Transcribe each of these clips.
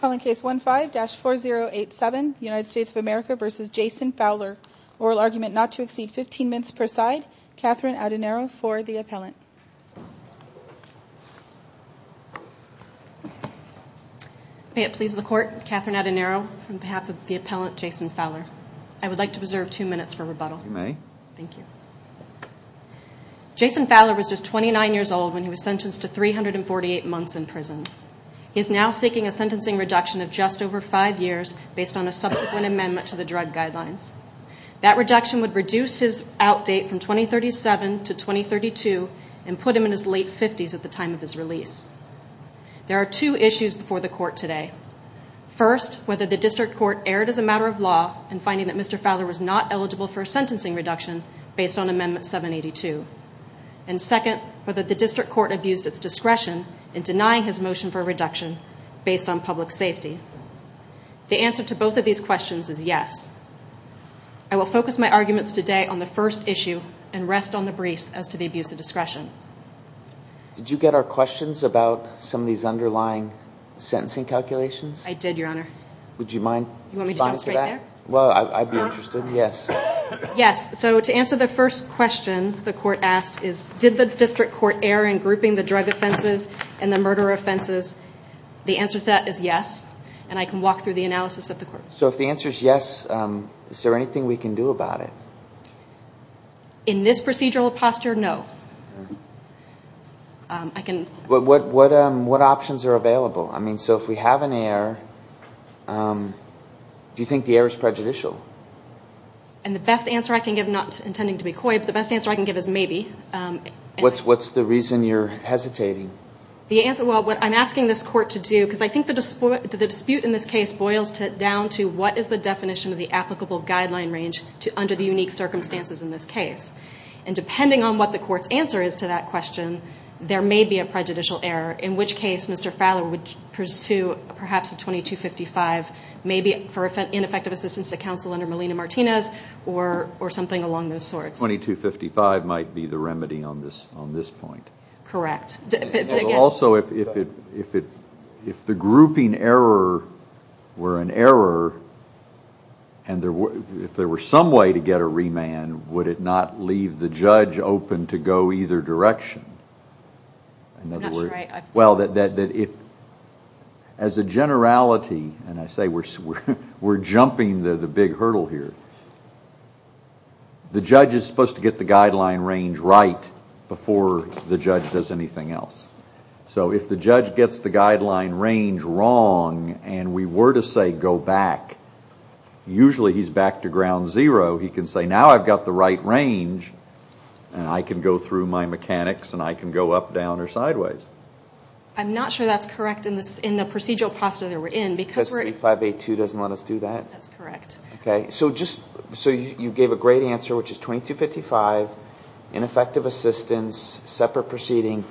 Calling case 15-4087, United States of America v. Jason Fowler. Oral argument not to exceed 15 minutes per side. Catherine Adenaro for the appellant. May it please the court, Catherine Adenaro on behalf of the appellant, Jason Fowler. I would like to reserve two minutes for rebuttal. You may. Thank you. Jason Fowler was just 29 years old when he was sentenced to 348 months in prison. He is now seeking a sentencing reduction of just over five years based on a subsequent amendment to the drug guidelines. That reduction would reduce his outdate from 2037 to 2032 and put him in his late 50s at the time of his release. There are two issues before the court today. First, whether the district court erred as a matter of law in finding that Mr. Fowler was not eligible for a sentencing reduction based on Amendment 782. And second, whether the district court abused its discretion in denying his motion for a reduction based on public safety. The answer to both of these questions is yes. I will focus my arguments today on the first issue and rest on the briefs as to the abuse of discretion. Did you get our questions about some of these underlying sentencing calculations? I did, Your Honor. Would you mind responding to that? Well, I'd be interested, yes. So to answer the first question the court asked is, did the district court err in grouping the drug offenses and the murder offenses? The answer to that is yes, and I can walk through the analysis at the court. So if the answer is yes, is there anything we can do about it? In this procedural posture, no. What options are available? So if we have an error, do you think the error is prejudicial? And the best answer I can give, not intending to be coy, but the best answer I can give is maybe. What's the reason you're hesitating? Well, what I'm asking this court to do, because I think the dispute in this case boils down to what is the definition of the applicable guideline range under the unique circumstances in this case? And depending on what the court's answer is to that question, there may be a prejudicial error, in which case Mr. Fowler would pursue perhaps a 2255, maybe for ineffective assistance to counsel under Melina Martinez, or something along those sorts. 2255 might be the remedy on this point. Correct. Also, if the grouping error were an error, and if there were some way to get a remand, would it not leave the judge open to go either direction? I'm not sure I... Well, as a generality, and I say we're jumping the big hurdle here, the judge is supposed to get the guideline range right before the judge does anything else. So if the judge gets the guideline range wrong, and we were to say go back, usually he's back to ground zero, he can say now I've got the right range, and I can go through my mechanics, and I can go up, down, or sideways. I'm not sure that's correct in the procedural posture that we're in, because we're... SB 582 doesn't let us do that? That's correct. Okay, so you gave a great answer, which is 2255, ineffective assistance, separate proceeding.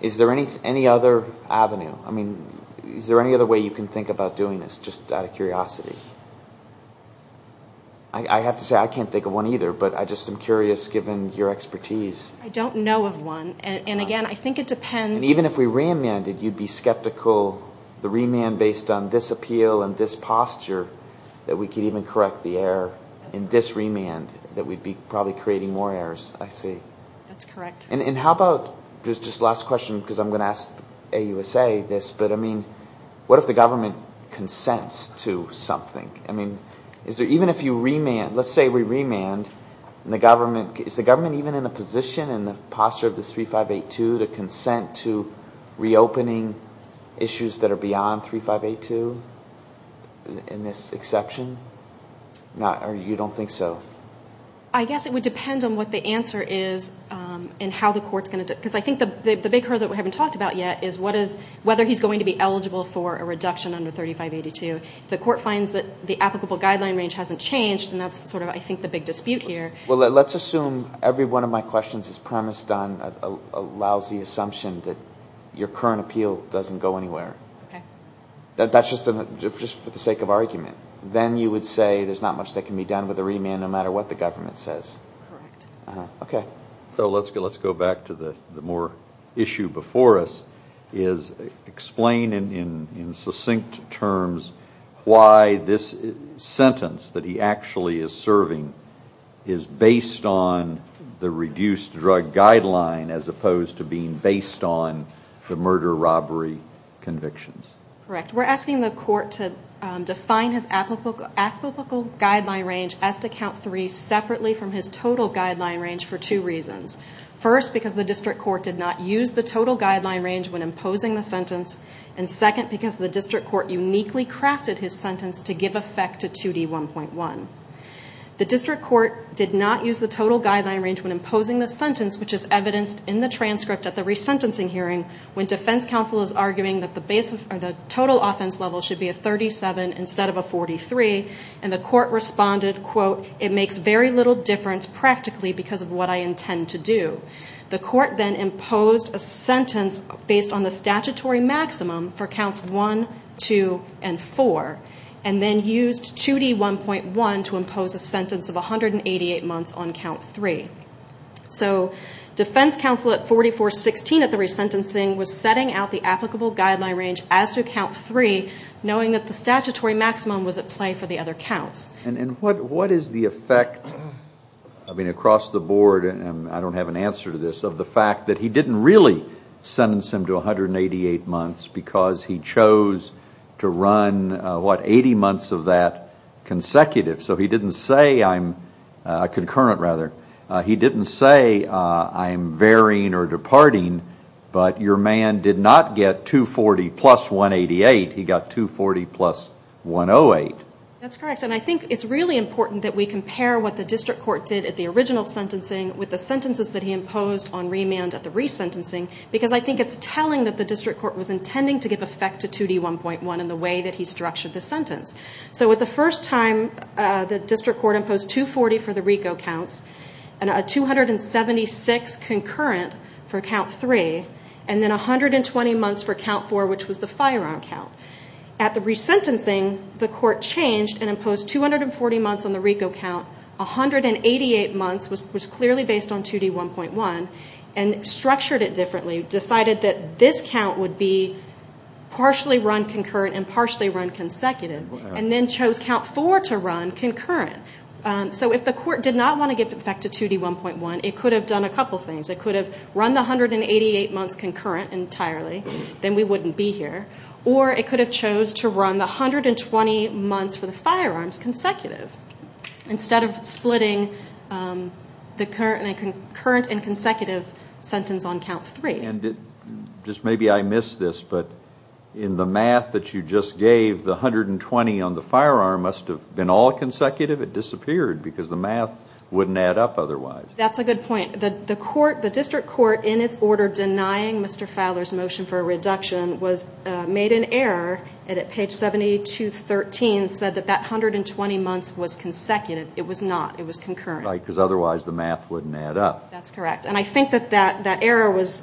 Is there any other avenue? I mean, is there any other way you can think about doing this, just out of curiosity? I have to say I can't think of one either, but I just am curious, given your expertise. I don't know of one, and again, I think it depends... And even if we remanded, you'd be skeptical, the remand based on this appeal and this posture, that we could even correct the error in this remand, that we'd be probably creating more errors, I see. That's correct. And how about, just last question, because I'm going to ask AUSA this, but I mean, what if the government consents to something? I mean, even if you remand, let's say we remand, is the government even in a position in the posture of this 3582 to consent to reopening issues that are beyond 3582, in this exception? Or you don't think so? I guess it would depend on what the answer is, and how the court's going to... Because I think the big hurdle that we haven't talked about yet is whether he's going to be eligible for a reduction under 3582. If the court finds that the applicable guideline range hasn't changed, then that's sort of, I think, the big dispute here. Well, let's assume every one of my questions is premised on a lousy assumption that your current appeal doesn't go anywhere. Okay. That's just for the sake of argument. Then you would say there's not much that can be done with a remand, no matter what the government says. Correct. Okay. So let's go back to the more issue before us, is explain in succinct terms why this sentence that he actually is serving is based on the reduced drug guideline as opposed to being based on the murder-robbery convictions. Correct. We're asking the court to define his applicable guideline range as to count three separately from his total guideline range for two reasons. First, because the district court did not use the total guideline range when imposing the sentence, and second, because the district court uniquely crafted his sentence to give effect to 2D1.1. The district court did not use the total guideline range when imposing the sentence, which is evidenced in the transcript at the resentencing hearing, when defense counsel is arguing that the total offense level should be a 37 instead of a 43, and the court responded, quote, it makes very little difference practically because of what I intend to do. The court then imposed a sentence based on the statutory maximum for counts one, two, and four, and then used 2D1.1 to impose a sentence of 188 months on count three. So defense counsel at 44-16 at the resentencing was setting out the applicable guideline range as to count three, knowing that the statutory maximum was at play for the other counts. And what is the effect, I mean, across the board, and I don't have an answer to this, of the fact that he didn't really sentence him to 188 months because he chose to run, what, 80 months of that consecutive. So he didn't say I'm concurrent, rather. He didn't say I'm varying or departing, but your man did not get 240 plus 188. He got 240 plus 108. That's correct, and I think it's really important that we compare what the district court did at the original sentencing with the sentences that he imposed on remand at the resentencing because I think it's telling that the district court was intending to give effect to 2D1.1 in the way that he structured the sentence. So with the first time, the district court imposed 240 for the RICO counts and a 276 concurrent for count three, and then 120 months for count four, which was the firearm count. At the resentencing, the court changed and imposed 240 months on the RICO count, 188 months was clearly based on 2D1.1, and structured it differently, decided that this count would be partially run concurrent and partially run consecutive, and then chose count four to run concurrent. So if the court did not want to give effect to 2D1.1, it could have done a couple things. It could have run the 188 months concurrent entirely, then we wouldn't be here, or it could have chose to run the 120 months for the firearms consecutive instead of splitting the current and consecutive sentence on count three. Maybe I missed this, but in the math that you just gave, the 120 on the firearm must have been all consecutive. It disappeared because the math wouldn't add up otherwise. That's a good point. The district court, in its order denying Mr. Fowler's motion for a reduction, made an error, and at page 72.13 said that that 120 months was consecutive. It was not. It was concurrent. Right, because otherwise the math wouldn't add up. That's correct, and I think that that error was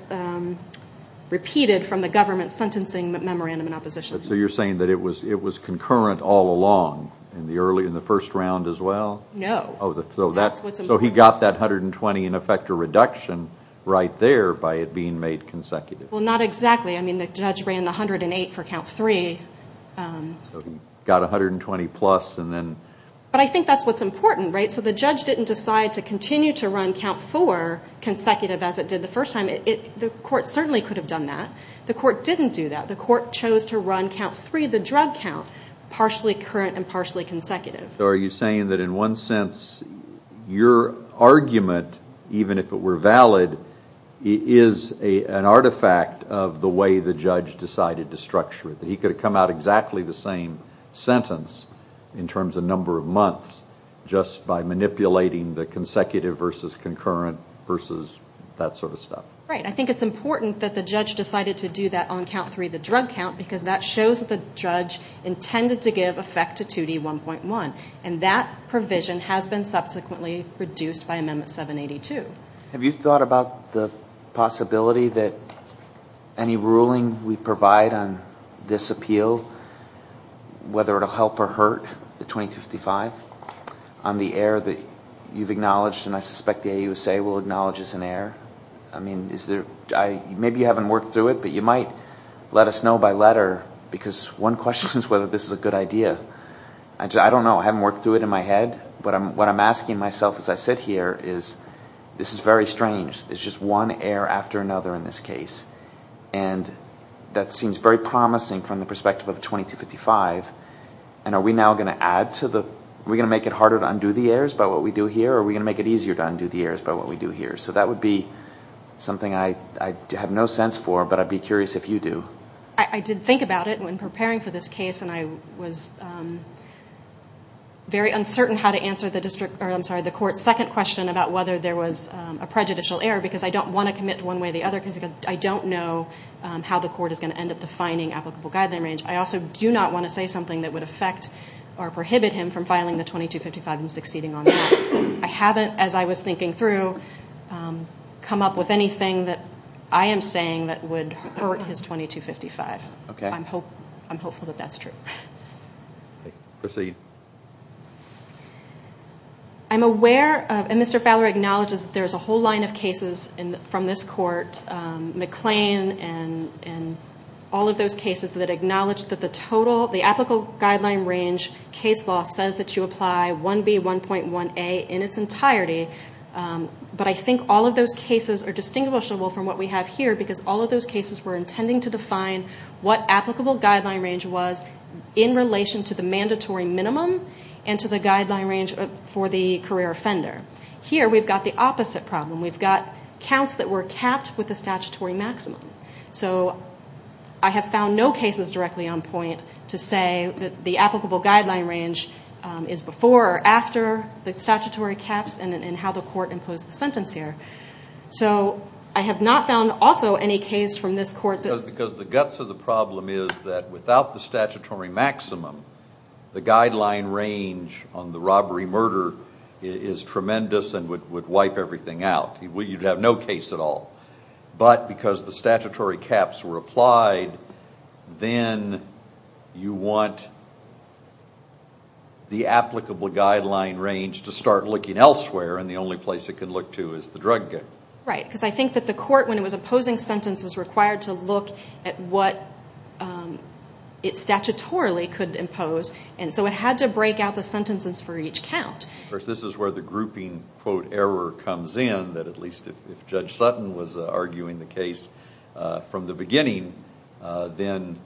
repeated from the government sentencing memorandum in opposition. So you're saying that it was concurrent all along in the first round as well? No. So he got that 120 and effect a reduction right there by it being made consecutive. Well, not exactly. I mean, the judge ran the 108 for count three. So he got 120 plus and then? But I think that's what's important, right? So the judge didn't decide to continue to run count four consecutive as it did the first time. The court certainly could have done that. The court didn't do that. The court chose to run count three, the drug count, partially current and partially consecutive. So are you saying that in one sense your argument, even if it were valid, is an artifact of the way the judge decided to structure it, that he could have come out exactly the same sentence in terms of number of months just by manipulating the consecutive versus concurrent versus that sort of stuff? Right. I think it's important that the judge decided to do that on count three, the drug count, because that shows that the judge intended to give effect to 2D1.1. And that provision has been subsequently reduced by Amendment 782. Have you thought about the possibility that any ruling we provide on this appeal, whether it will help or hurt the 2055 on the error that you've acknowledged and I suspect the AUSA will acknowledge as an error? I mean, maybe you haven't worked through it, but you might let us know by letter, because one question is whether this is a good idea. I don't know. I haven't worked through it in my head. But what I'm asking myself as I sit here is this is very strange. There's just one error after another in this case. And that seems very promising from the perspective of 2255. And are we now going to make it harder to undo the errors by what we do here or are we going to make it easier to undo the errors by what we do here? So that would be something I have no sense for, but I'd be curious if you do. I did think about it when preparing for this case, and I was very uncertain how to answer the court's second question about whether there was a prejudicial error, because I don't want to commit one way or the other, because I don't know how the court is going to end up defining applicable guideline range. I also do not want to say something that would affect or prohibit him from filing the 2255 and succeeding on that. I haven't, as I was thinking through, come up with anything that I am saying that would hurt his 2255. Okay. I'm hopeful that that's true. Proceed. I'm aware, and Mr. Fowler acknowledges there's a whole line of cases from this court, McLean and all of those cases that acknowledge that the total, the applicable guideline range case law says that you apply 1B1.1A in its entirety, but I think all of those cases are distinguishable from what we have here, because all of those cases were intending to define what applicable guideline range was in relation to the mandatory minimum and to the guideline range for the career offender. Here we've got the opposite problem. We've got counts that were capped with the statutory maximum. So I have found no cases directly on point to say that the applicable guideline range is before or after the statutory caps and how the court imposed the sentence here. So I have not found, also, any case from this court that's- Because the guts of the problem is that without the statutory maximum, the guideline range on the robbery-murder is tremendous and would wipe everything out. You'd have no case at all. But because the statutory caps were applied, then you want the applicable guideline range to start looking elsewhere, and the only place it can look to is the drug gang. Right, because I think that the court, when it was imposing sentence, was required to look at what it statutorily could impose, and so it had to break out the sentences for each count. Of course, this is where the grouping, quote, error comes in, that at least if Judge Sutton was arguing the case from the beginning, then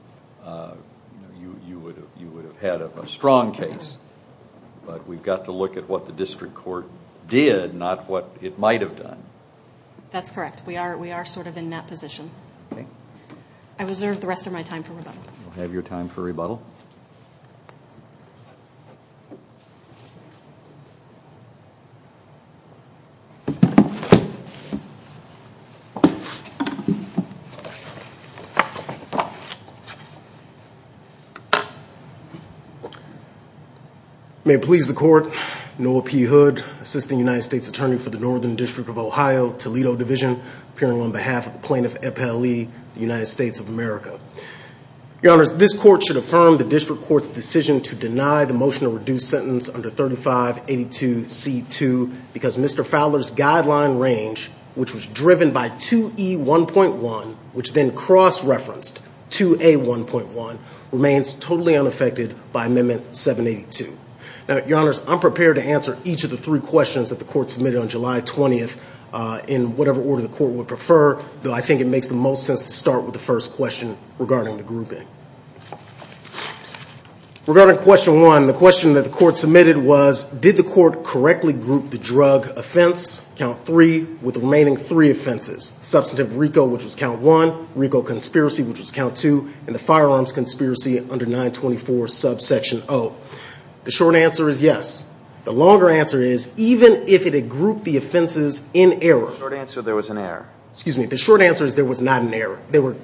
you would have had a strong case. But we've got to look at what the district court did, not what it might have done. That's correct. We are sort of in that position. I reserve the rest of my time for rebuttal. We'll have your time for rebuttal. May it please the Court, Noah P. Hood, Assistant United States Attorney for the Northern District of Ohio, Toledo Division, appearing on behalf of the plaintiff, E.P. Lee, United States of America. Your Honors, this court should affirm the district court's decision to deny the motion to reduce sentence under 3582C2 because Mr. Fowler's guideline range, which was driven by 2E1.1, which then cross-referenced 2A1.1, remains totally unaffected by Amendment 782. Now, Your Honors, I'm prepared to answer each of the three questions that the court submitted on July 20th in whatever order the court would prefer, though I think it makes the most sense to start with the first question regarding the grouping. Regarding question one, the question that the court submitted was, did the court correctly group the drug offense, count three, with the remaining three offenses, substantive RICO, which was count one, RICO conspiracy, which was count two, and the firearms conspiracy under 924 subsection O? The short answer is yes. The longer answer is even if it had grouped the offenses in error. The short answer there was an error. Excuse me. The short answer is there was not an error.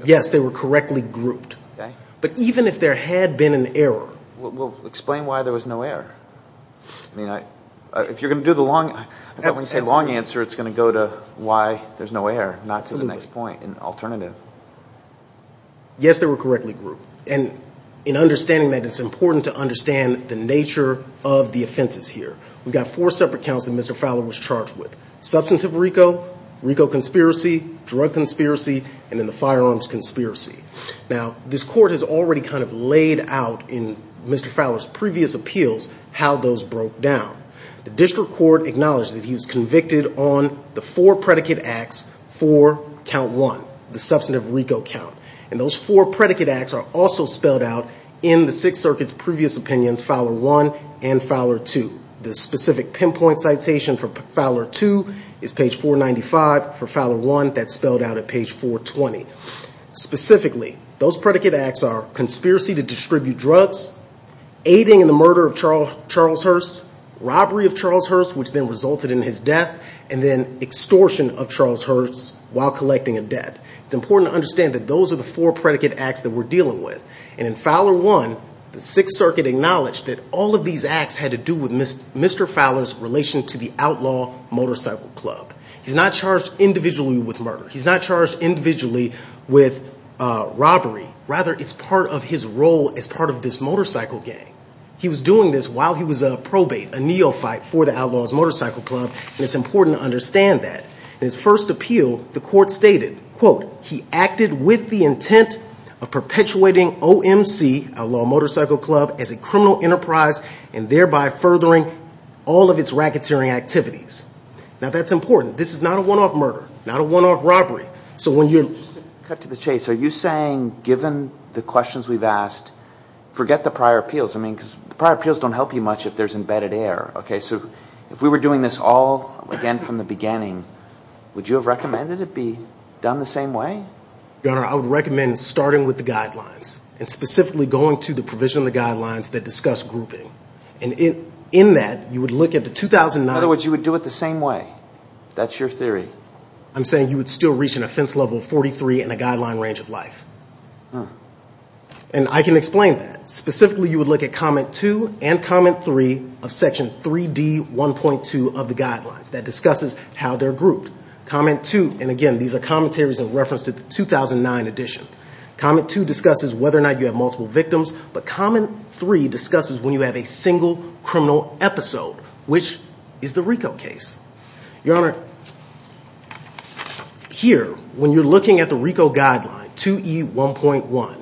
Yes, they were correctly grouped. Okay. But even if there had been an error. Well, explain why there was no error. I mean, if you're going to do the long answer, it's going to go to why there's no error, not to the next point, an alternative. Yes, they were correctly grouped. And in understanding that, it's important to understand the nature of the offenses here. We've got four separate counts that Mr. Fowler was charged with, substantive RICO, RICO conspiracy, drug conspiracy, and then the firearms conspiracy. Now, this court has already kind of laid out in Mr. Fowler's previous appeals how those broke down. The district court acknowledged that he was convicted on the four predicate acts for count one, the substantive RICO count. And those four predicate acts are also spelled out in the Sixth Circuit's previous opinions, Fowler 1 and Fowler 2. The specific pinpoint citation for Fowler 2 is page 495. For Fowler 1, that's spelled out at page 420. Specifically, those predicate acts are conspiracy to distribute drugs, aiding in the murder of Charles Hurst, robbery of Charles Hurst, which then resulted in his death, and then extortion of Charles Hurst while collecting a debt. It's important to understand that those are the four predicate acts that we're dealing with. And in Fowler 1, the Sixth Circuit acknowledged that all of these acts had to do with Mr. Fowler's relation to the Outlaw Motorcycle Club. He's not charged individually with murder. He's not charged individually with robbery. Rather, it's part of his role as part of this motorcycle gang. He was doing this while he was a probate, a neophyte for the Outlaws Motorcycle Club, and it's important to understand that. In his first appeal, the court stated, quote, he acted with the intent of perpetuating OMC, Outlaw Motorcycle Club, as a criminal enterprise and thereby furthering all of its racketeering activities. Now, that's important. This is not a one-off murder, not a one-off robbery. So when you're – Cut to the chase. Are you saying, given the questions we've asked, forget the prior appeals? I mean, because the prior appeals don't help you much if there's embedded error. Okay, so if we were doing this all again from the beginning, would you have recommended it be done the same way? Your Honor, I would recommend starting with the guidelines and specifically going to the provision of the guidelines that discuss grouping. And in that, you would look at the 2009 – In other words, you would do it the same way. That's your theory. I'm saying you would still reach an offense level of 43 and a guideline range of life. And I can explain that. Specifically, you would look at Comment 2 and Comment 3 of Section 3D1.2 of the guidelines that discusses how they're grouped. Comment 2 – and again, these are commentaries in reference to the 2009 edition. Comment 2 discusses whether or not you have multiple victims, but Comment 3 discusses when you have a single criminal episode, which is the RICO case. Your Honor, here, when you're looking at the RICO guideline, 2E1.1,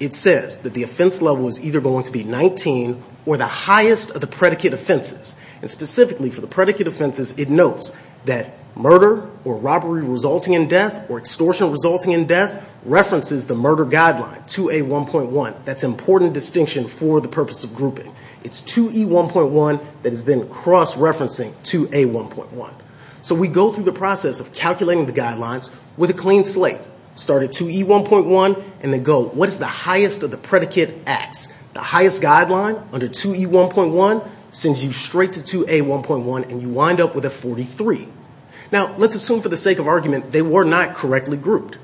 it says that the offense level is either going to be 19 or the highest of the predicate offenses. And specifically for the predicate offenses, it notes that murder or robbery resulting in death or extortion resulting in death references the murder guideline, 2A1.1. That's an important distinction for the purpose of grouping. It's 2E1.1 that is then cross-referencing 2A1.1. So we go through the process of calculating the guidelines with a clean slate. Start at 2E1.1 and then go, what is the highest of the predicate acts? The highest guideline under 2E1.1 sends you straight to 2A1.1 and you wind up with a 43. Now, let's assume for the sake of argument they were not correctly grouped.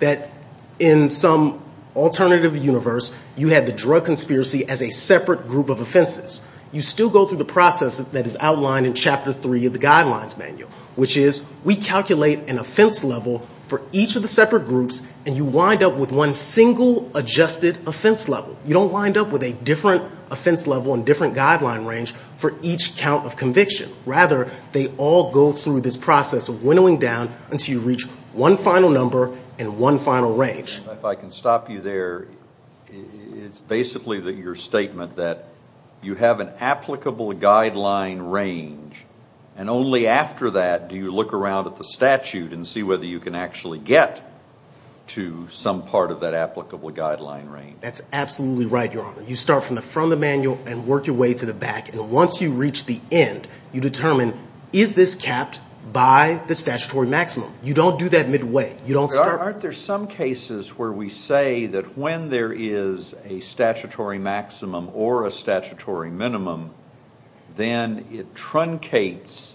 That in some alternative universe, you had the drug conspiracy as a separate group of offenses. You still go through the process that is outlined in Chapter 3 of the Guidelines Manual, which is we calculate an offense level for each of the separate groups and you wind up with one single adjusted offense level. You don't wind up with a different offense level and different guideline range for each count of conviction. Rather, they all go through this process of winnowing down until you reach one final number and one final range. If I can stop you there, it's basically your statement that you have an applicable guideline range and only after that do you look around at the statute and see whether you can actually get to some part of that applicable guideline range. That's absolutely right, Your Honor. You start from the front of the manual and work your way to the back and once you reach the end, you determine, is this capped by the statutory maximum? You don't do that midway. Aren't there some cases where we say that when there is a statutory maximum or a statutory minimum, then it truncates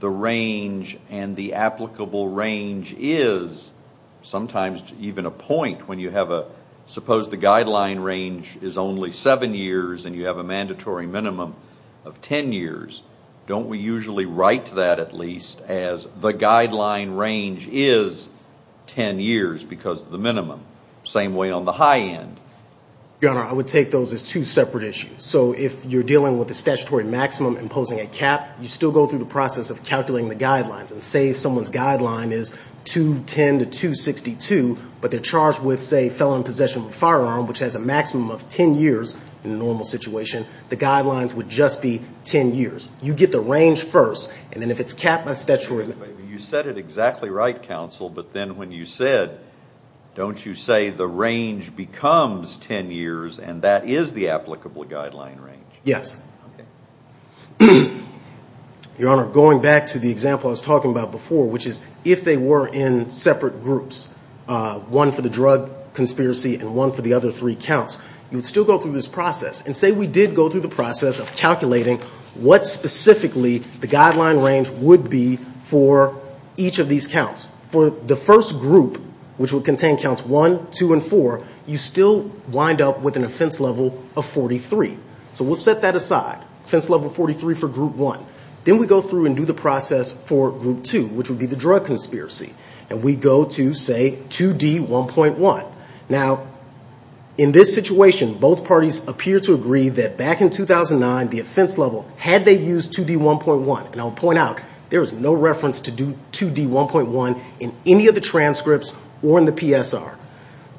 the range and the applicable range is sometimes even a point. Suppose the guideline range is only seven years and you have a mandatory minimum of ten years. Don't we usually write that at least as the guideline range is ten years because of the minimum? Same way on the high end. Your Honor, I would take those as two separate issues. So if you're dealing with a statutory maximum imposing a cap, you still go through the process of calculating the guidelines. Say someone's guideline is 210 to 262, but they're charged with, say, felon in possession of a firearm, which has a maximum of ten years in a normal situation. The guidelines would just be ten years. You get the range first and then if it's capped by statutory... Yes. Your Honor, going back to the example I was talking about before, which is if they were in separate groups, one for the drug conspiracy and one for the other three counts, you would still go through this process. And say we did go through the process of calculating what specifically the guideline range would be for each of these counts. For the first group, which would contain counts one, two, and four, you still wind up with an offense level of 43. So we'll set that aside. Offense level 43 for group one. Then we go through and do the process for group two, which would be the drug conspiracy. And we go to, say, 2D1.1. Now, in this situation, both parties appear to agree that back in 2009, the offense level, had they used 2D1.1, and I'll point out, there is no reference to 2D1.1 in any of the transcripts or in the PSR.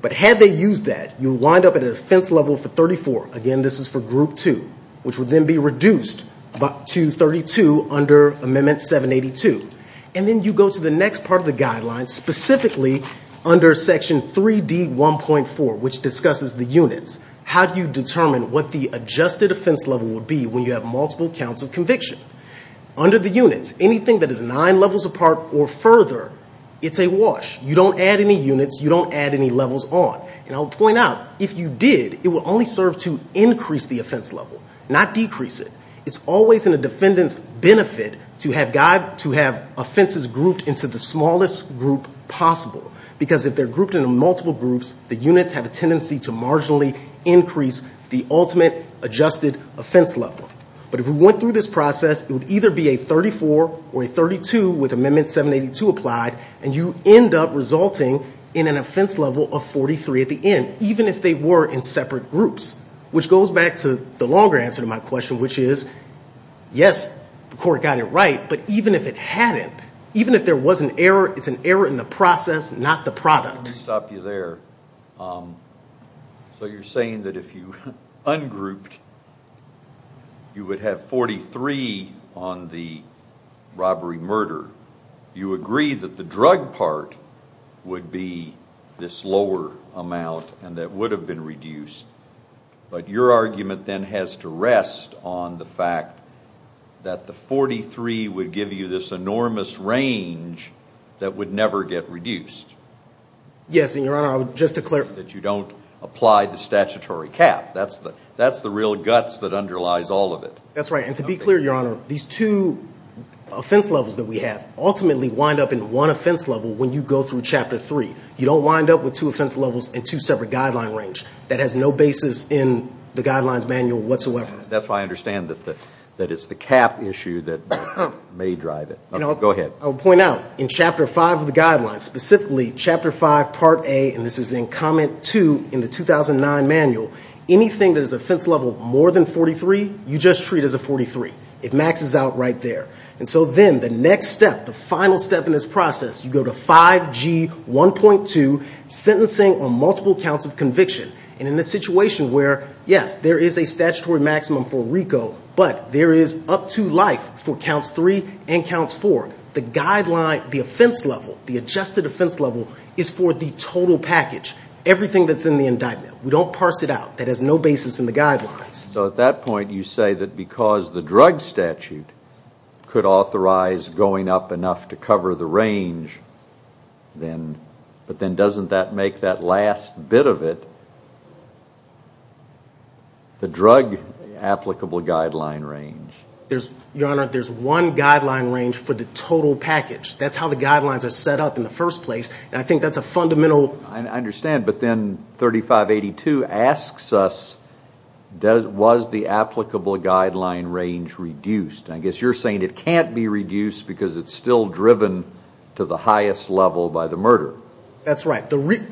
But had they used that, you wind up at an offense level for 34. Again, this is for group two, which would then be reduced to 32 under Amendment 782. And then you go to the next part of the guideline, specifically under Section 3D1.4, which discusses the units. How do you determine what the adjusted offense level would be when you have multiple counts of conviction? Under the units, anything that is nine levels apart or further, it's a wash. You don't add any units. You don't add any levels on. And I'll point out, if you did, it would only serve to increase the offense level, not decrease it. It's always in a defendant's benefit to have offenses grouped into the smallest group possible, because if they're grouped into multiple groups, the units have a tendency to marginally increase the ultimate adjusted offense level. But if we went through this process, it would either be a 34 or a 32 with Amendment 782 applied, and you end up resulting in an offense level of 43 at the end, even if they were in separate groups, which goes back to the longer answer to my question, which is, yes, the court got it right, but even if it hadn't, even if there was an error, it's an error in the process, not the product. Let me stop you there. So you're saying that if you ungrouped, you would have 43 on the robbery-murder. You agree that the drug part would be this lower amount and that would have been reduced, but your argument then has to rest on the fact that the 43 would give you this enormous range that would never get reduced. Yes, and, Your Honor, I would just declare— That you don't apply the statutory cap. That's the real guts that underlies all of it. That's right, and to be clear, Your Honor, these two offense levels that we have ultimately wind up in one offense level when you go through Chapter 3. You don't wind up with two offense levels and two separate guideline range. That has no basis in the Guidelines Manual whatsoever. That's why I understand that it's the cap issue that may drive it. Go ahead. I'll point out, in Chapter 5 of the Guidelines, specifically Chapter 5, Part A, and this is in Comment 2 in the 2009 Manual, anything that is offense level more than 43, you just treat as a 43. It maxes out right there. And so then the next step, the final step in this process, you go to 5G1.2, Sentencing on Multiple Counts of Conviction. And in a situation where, yes, there is a statutory maximum for RICO, but there is up to life for Counts 3 and Counts 4, the guideline, the offense level, the adjusted offense level is for the total package, everything that's in the indictment. We don't parse it out. That has no basis in the guidelines. So at that point, you say that because the drug statute could authorize going up enough to cover the range, but then doesn't that make that last bit of it the drug applicable guideline range? Your Honor, there's one guideline range for the total package. That's how the guidelines are set up in the first place, and I think that's a fundamental... I understand, but then 3582 asks us, was the applicable guideline range reduced? I guess you're saying it can't be reduced because it's still driven to the highest level by the murderer. That's right,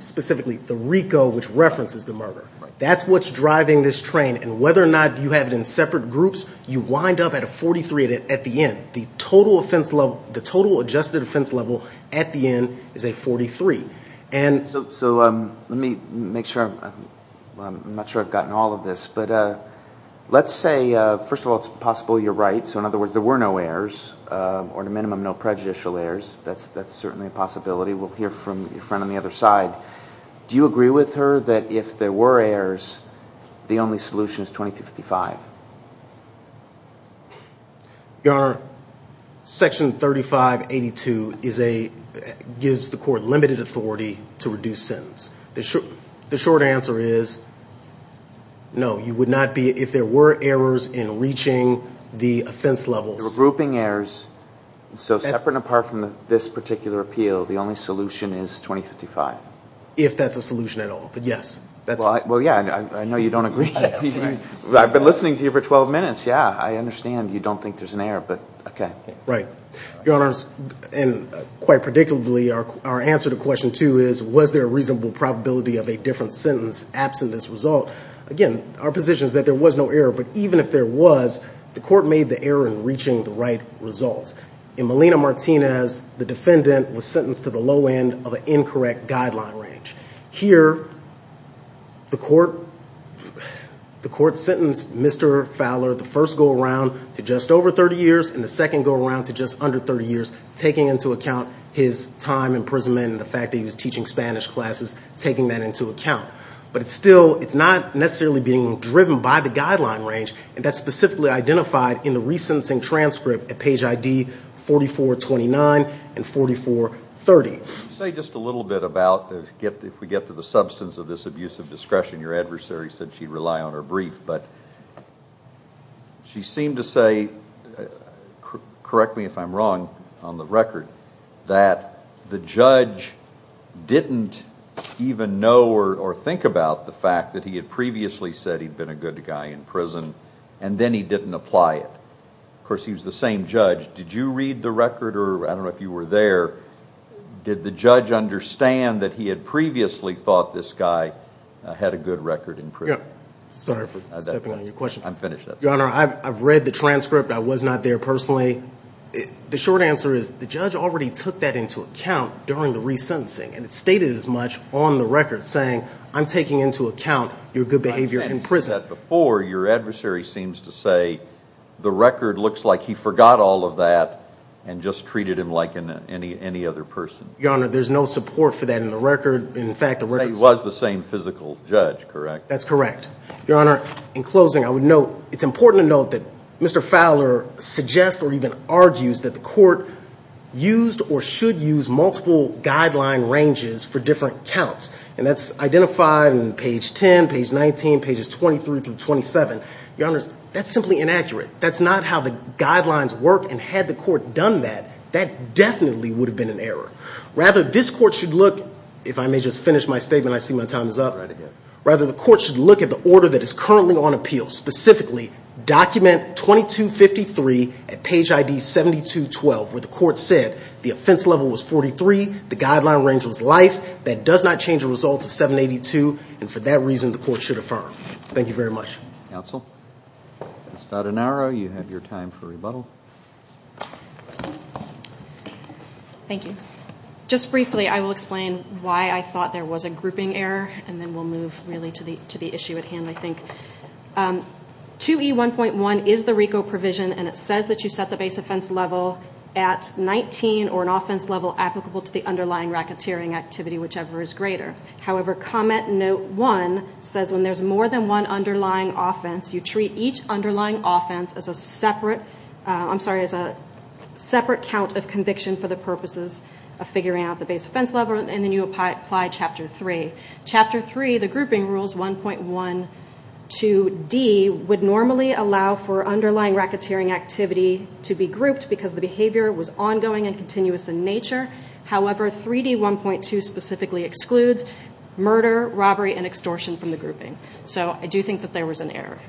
specifically the RICO, which references the murderer. That's what's driving this train, and whether or not you have it in separate groups, you wind up at a 43 at the end. The total adjusted offense level at the end is a 43. So let me make sure. I'm not sure I've gotten all of this, but let's say, first of all, it's possible you're right. So, in other words, there were no errors or, at a minimum, no prejudicial errors. That's certainly a possibility. We'll hear from your friend on the other side. Do you agree with her that if there were errors, the only solution is 2255? Your section 3582 gives the court limited authority to reduce sentence. The short answer is, no, you would not be, if there were errors in reaching the offense levels... There were grouping errors, so separate and apart from this particular appeal, the only solution is 2055. If that's a solution at all, but yes. Well, yeah, I know you don't agree. I've been listening to you for 12 minutes. Yeah, I understand you don't think there's an error, but okay. Right. Your Honors, and quite predictably, our answer to question two is, was there a reasonable probability of a different sentence absent this result? Again, our position is that there was no error, but even if there was, the court made the error in reaching the right results. In Melina Martinez, the defendant was sentenced to the low end of an incorrect guideline range. Here, the court sentenced Mr. Fowler, the first go-around, to just over 30 years, and the second go-around to just under 30 years, taking into account his time imprisonment and the fact that he was teaching Spanish classes, taking that into account. But still, it's not necessarily being driven by the guideline range, and that's specifically identified in the re-sentencing transcript at page ID 4429 and 4430. Let me say just a little bit about, if we get to the substance of this abuse of discretion, your adversary said she'd rely on her brief, but she seemed to say, correct me if I'm wrong on the record, that the judge didn't even know or think about the fact that he had previously said he'd been a good guy in prison, and then he didn't apply it. Of course, he was the same judge. Did you read the record? I don't know if you were there. Did the judge understand that he had previously thought this guy had a good record in prison? Yeah. Sorry for stepping on your question. I'm finished. Your Honor, I've read the transcript. I was not there personally. The short answer is the judge already took that into account during the re-sentencing, and it's stated as much on the record, saying, I'm taking into account your good behavior in prison. As you said before, your adversary seems to say the record looks like he forgot all of that and just treated him like any other person. Your Honor, there's no support for that in the record. In fact, the record says— He was the same physical judge, correct? That's correct. Your Honor, in closing, I would note, it's important to note that Mr. Fowler suggests or even argues that the court used or should use multiple guideline ranges for different counts, and that's identified in page 10, page 19, pages 23 through 27. Your Honor, that's simply inaccurate. That's not how the guidelines work, and had the court done that, that definitely would have been an error. Rather, this court should look—if I may just finish my statement. I see my time is up. Rather, the court should look at the order that is currently on appeal, specifically document 2253 at page ID 7212, where the court said the offense level was 43, the guideline range was life, that does not change the result of 782, and for that reason, the court should affirm. Thank you very much. Counsel? Ms. Fadanaro, you have your time for rebuttal. Thank you. Just briefly, I will explain why I thought there was a grouping error, and then we'll move really to the issue at hand, I think. 2E1.1 is the RICO provision, and it says that you set the base offense level at 19 or an offense level applicable to the underlying racketeering activity, whichever is greater. However, Comment Note 1 says when there's more than one underlying offense, you treat each underlying offense as a separate count of conviction for the purposes of figuring out the base offense level, and then you apply Chapter 3. Chapter 3, the grouping rules, 1.12d, would normally allow for underlying racketeering activity to be grouped because the behavior was ongoing and continuous in nature. However, 3D1.2 specifically excludes murder, robbery, and extortion from the grouping. So I do think that there was an error.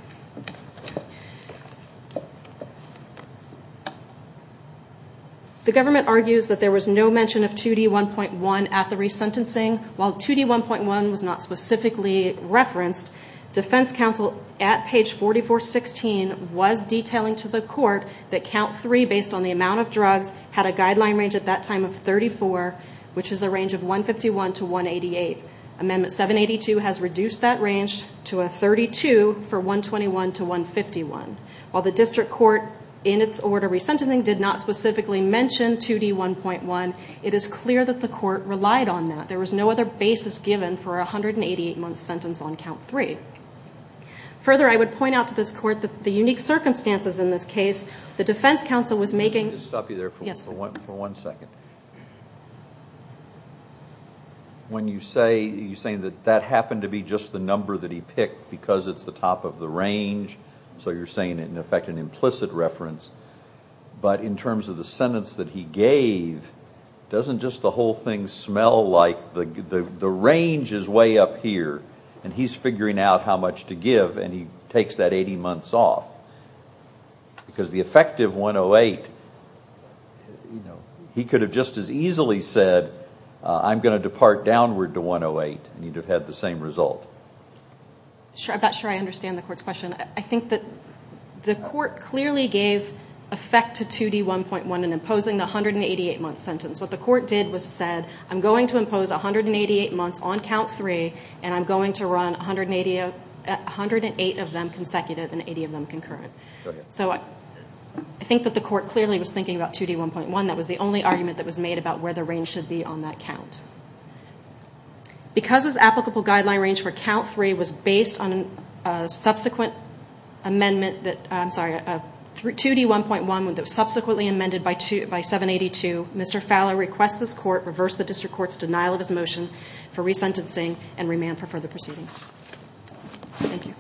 The government argues that there was no mention of 2D1.1 at the resentencing, while 2D1.1 was not specifically referenced. Defense counsel at page 4416 was detailing to the court that count 3, based on the amount of drugs, had a guideline range at that time of 34, which is a range of 151 to 188. Amendment 782 has reduced that range to a 32 for 121 to 151. While the district court in its order resentencing did not specifically mention 2D1.1, it is clear that the court relied on that. There was no other basis given for a 188-month sentence on count 3. Further, I would point out to this court that the unique circumstances in this case, the defense counsel was making... Let me just stop you there for one second. When you say that that happened to be just the number that he picked because it's the top of the range, so you're saying, in effect, an implicit reference, but in terms of the sentence that he gave, doesn't just the whole thing smell like the range is way up here and he's figuring out how much to give and he takes that 18 months off? Because the effective 108, he could have just as easily said, I'm going to depart downward to 108 and he'd have had the same result. I'm not sure I understand the court's question. I think that the court clearly gave effect to 2D1.1 in imposing the 188-month sentence. What the court did was said, I'm going to impose 188 months on count 3 and I'm going to run 108 of them consecutive and 80 of them concurrent. I think that the court clearly was thinking about 2D1.1. That was the only argument that was made about where the range should be on that count. Because his applicable guideline range for count 3 was based on a subsequent amendment, I'm sorry, 2D1.1 that was subsequently amended by 782, Mr. Fowler requests this court reverse the district court's denial of his motion for resentencing and remand for further proceedings. Thank you.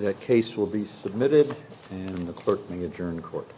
That case will be submitted and the clerk may adjourn court.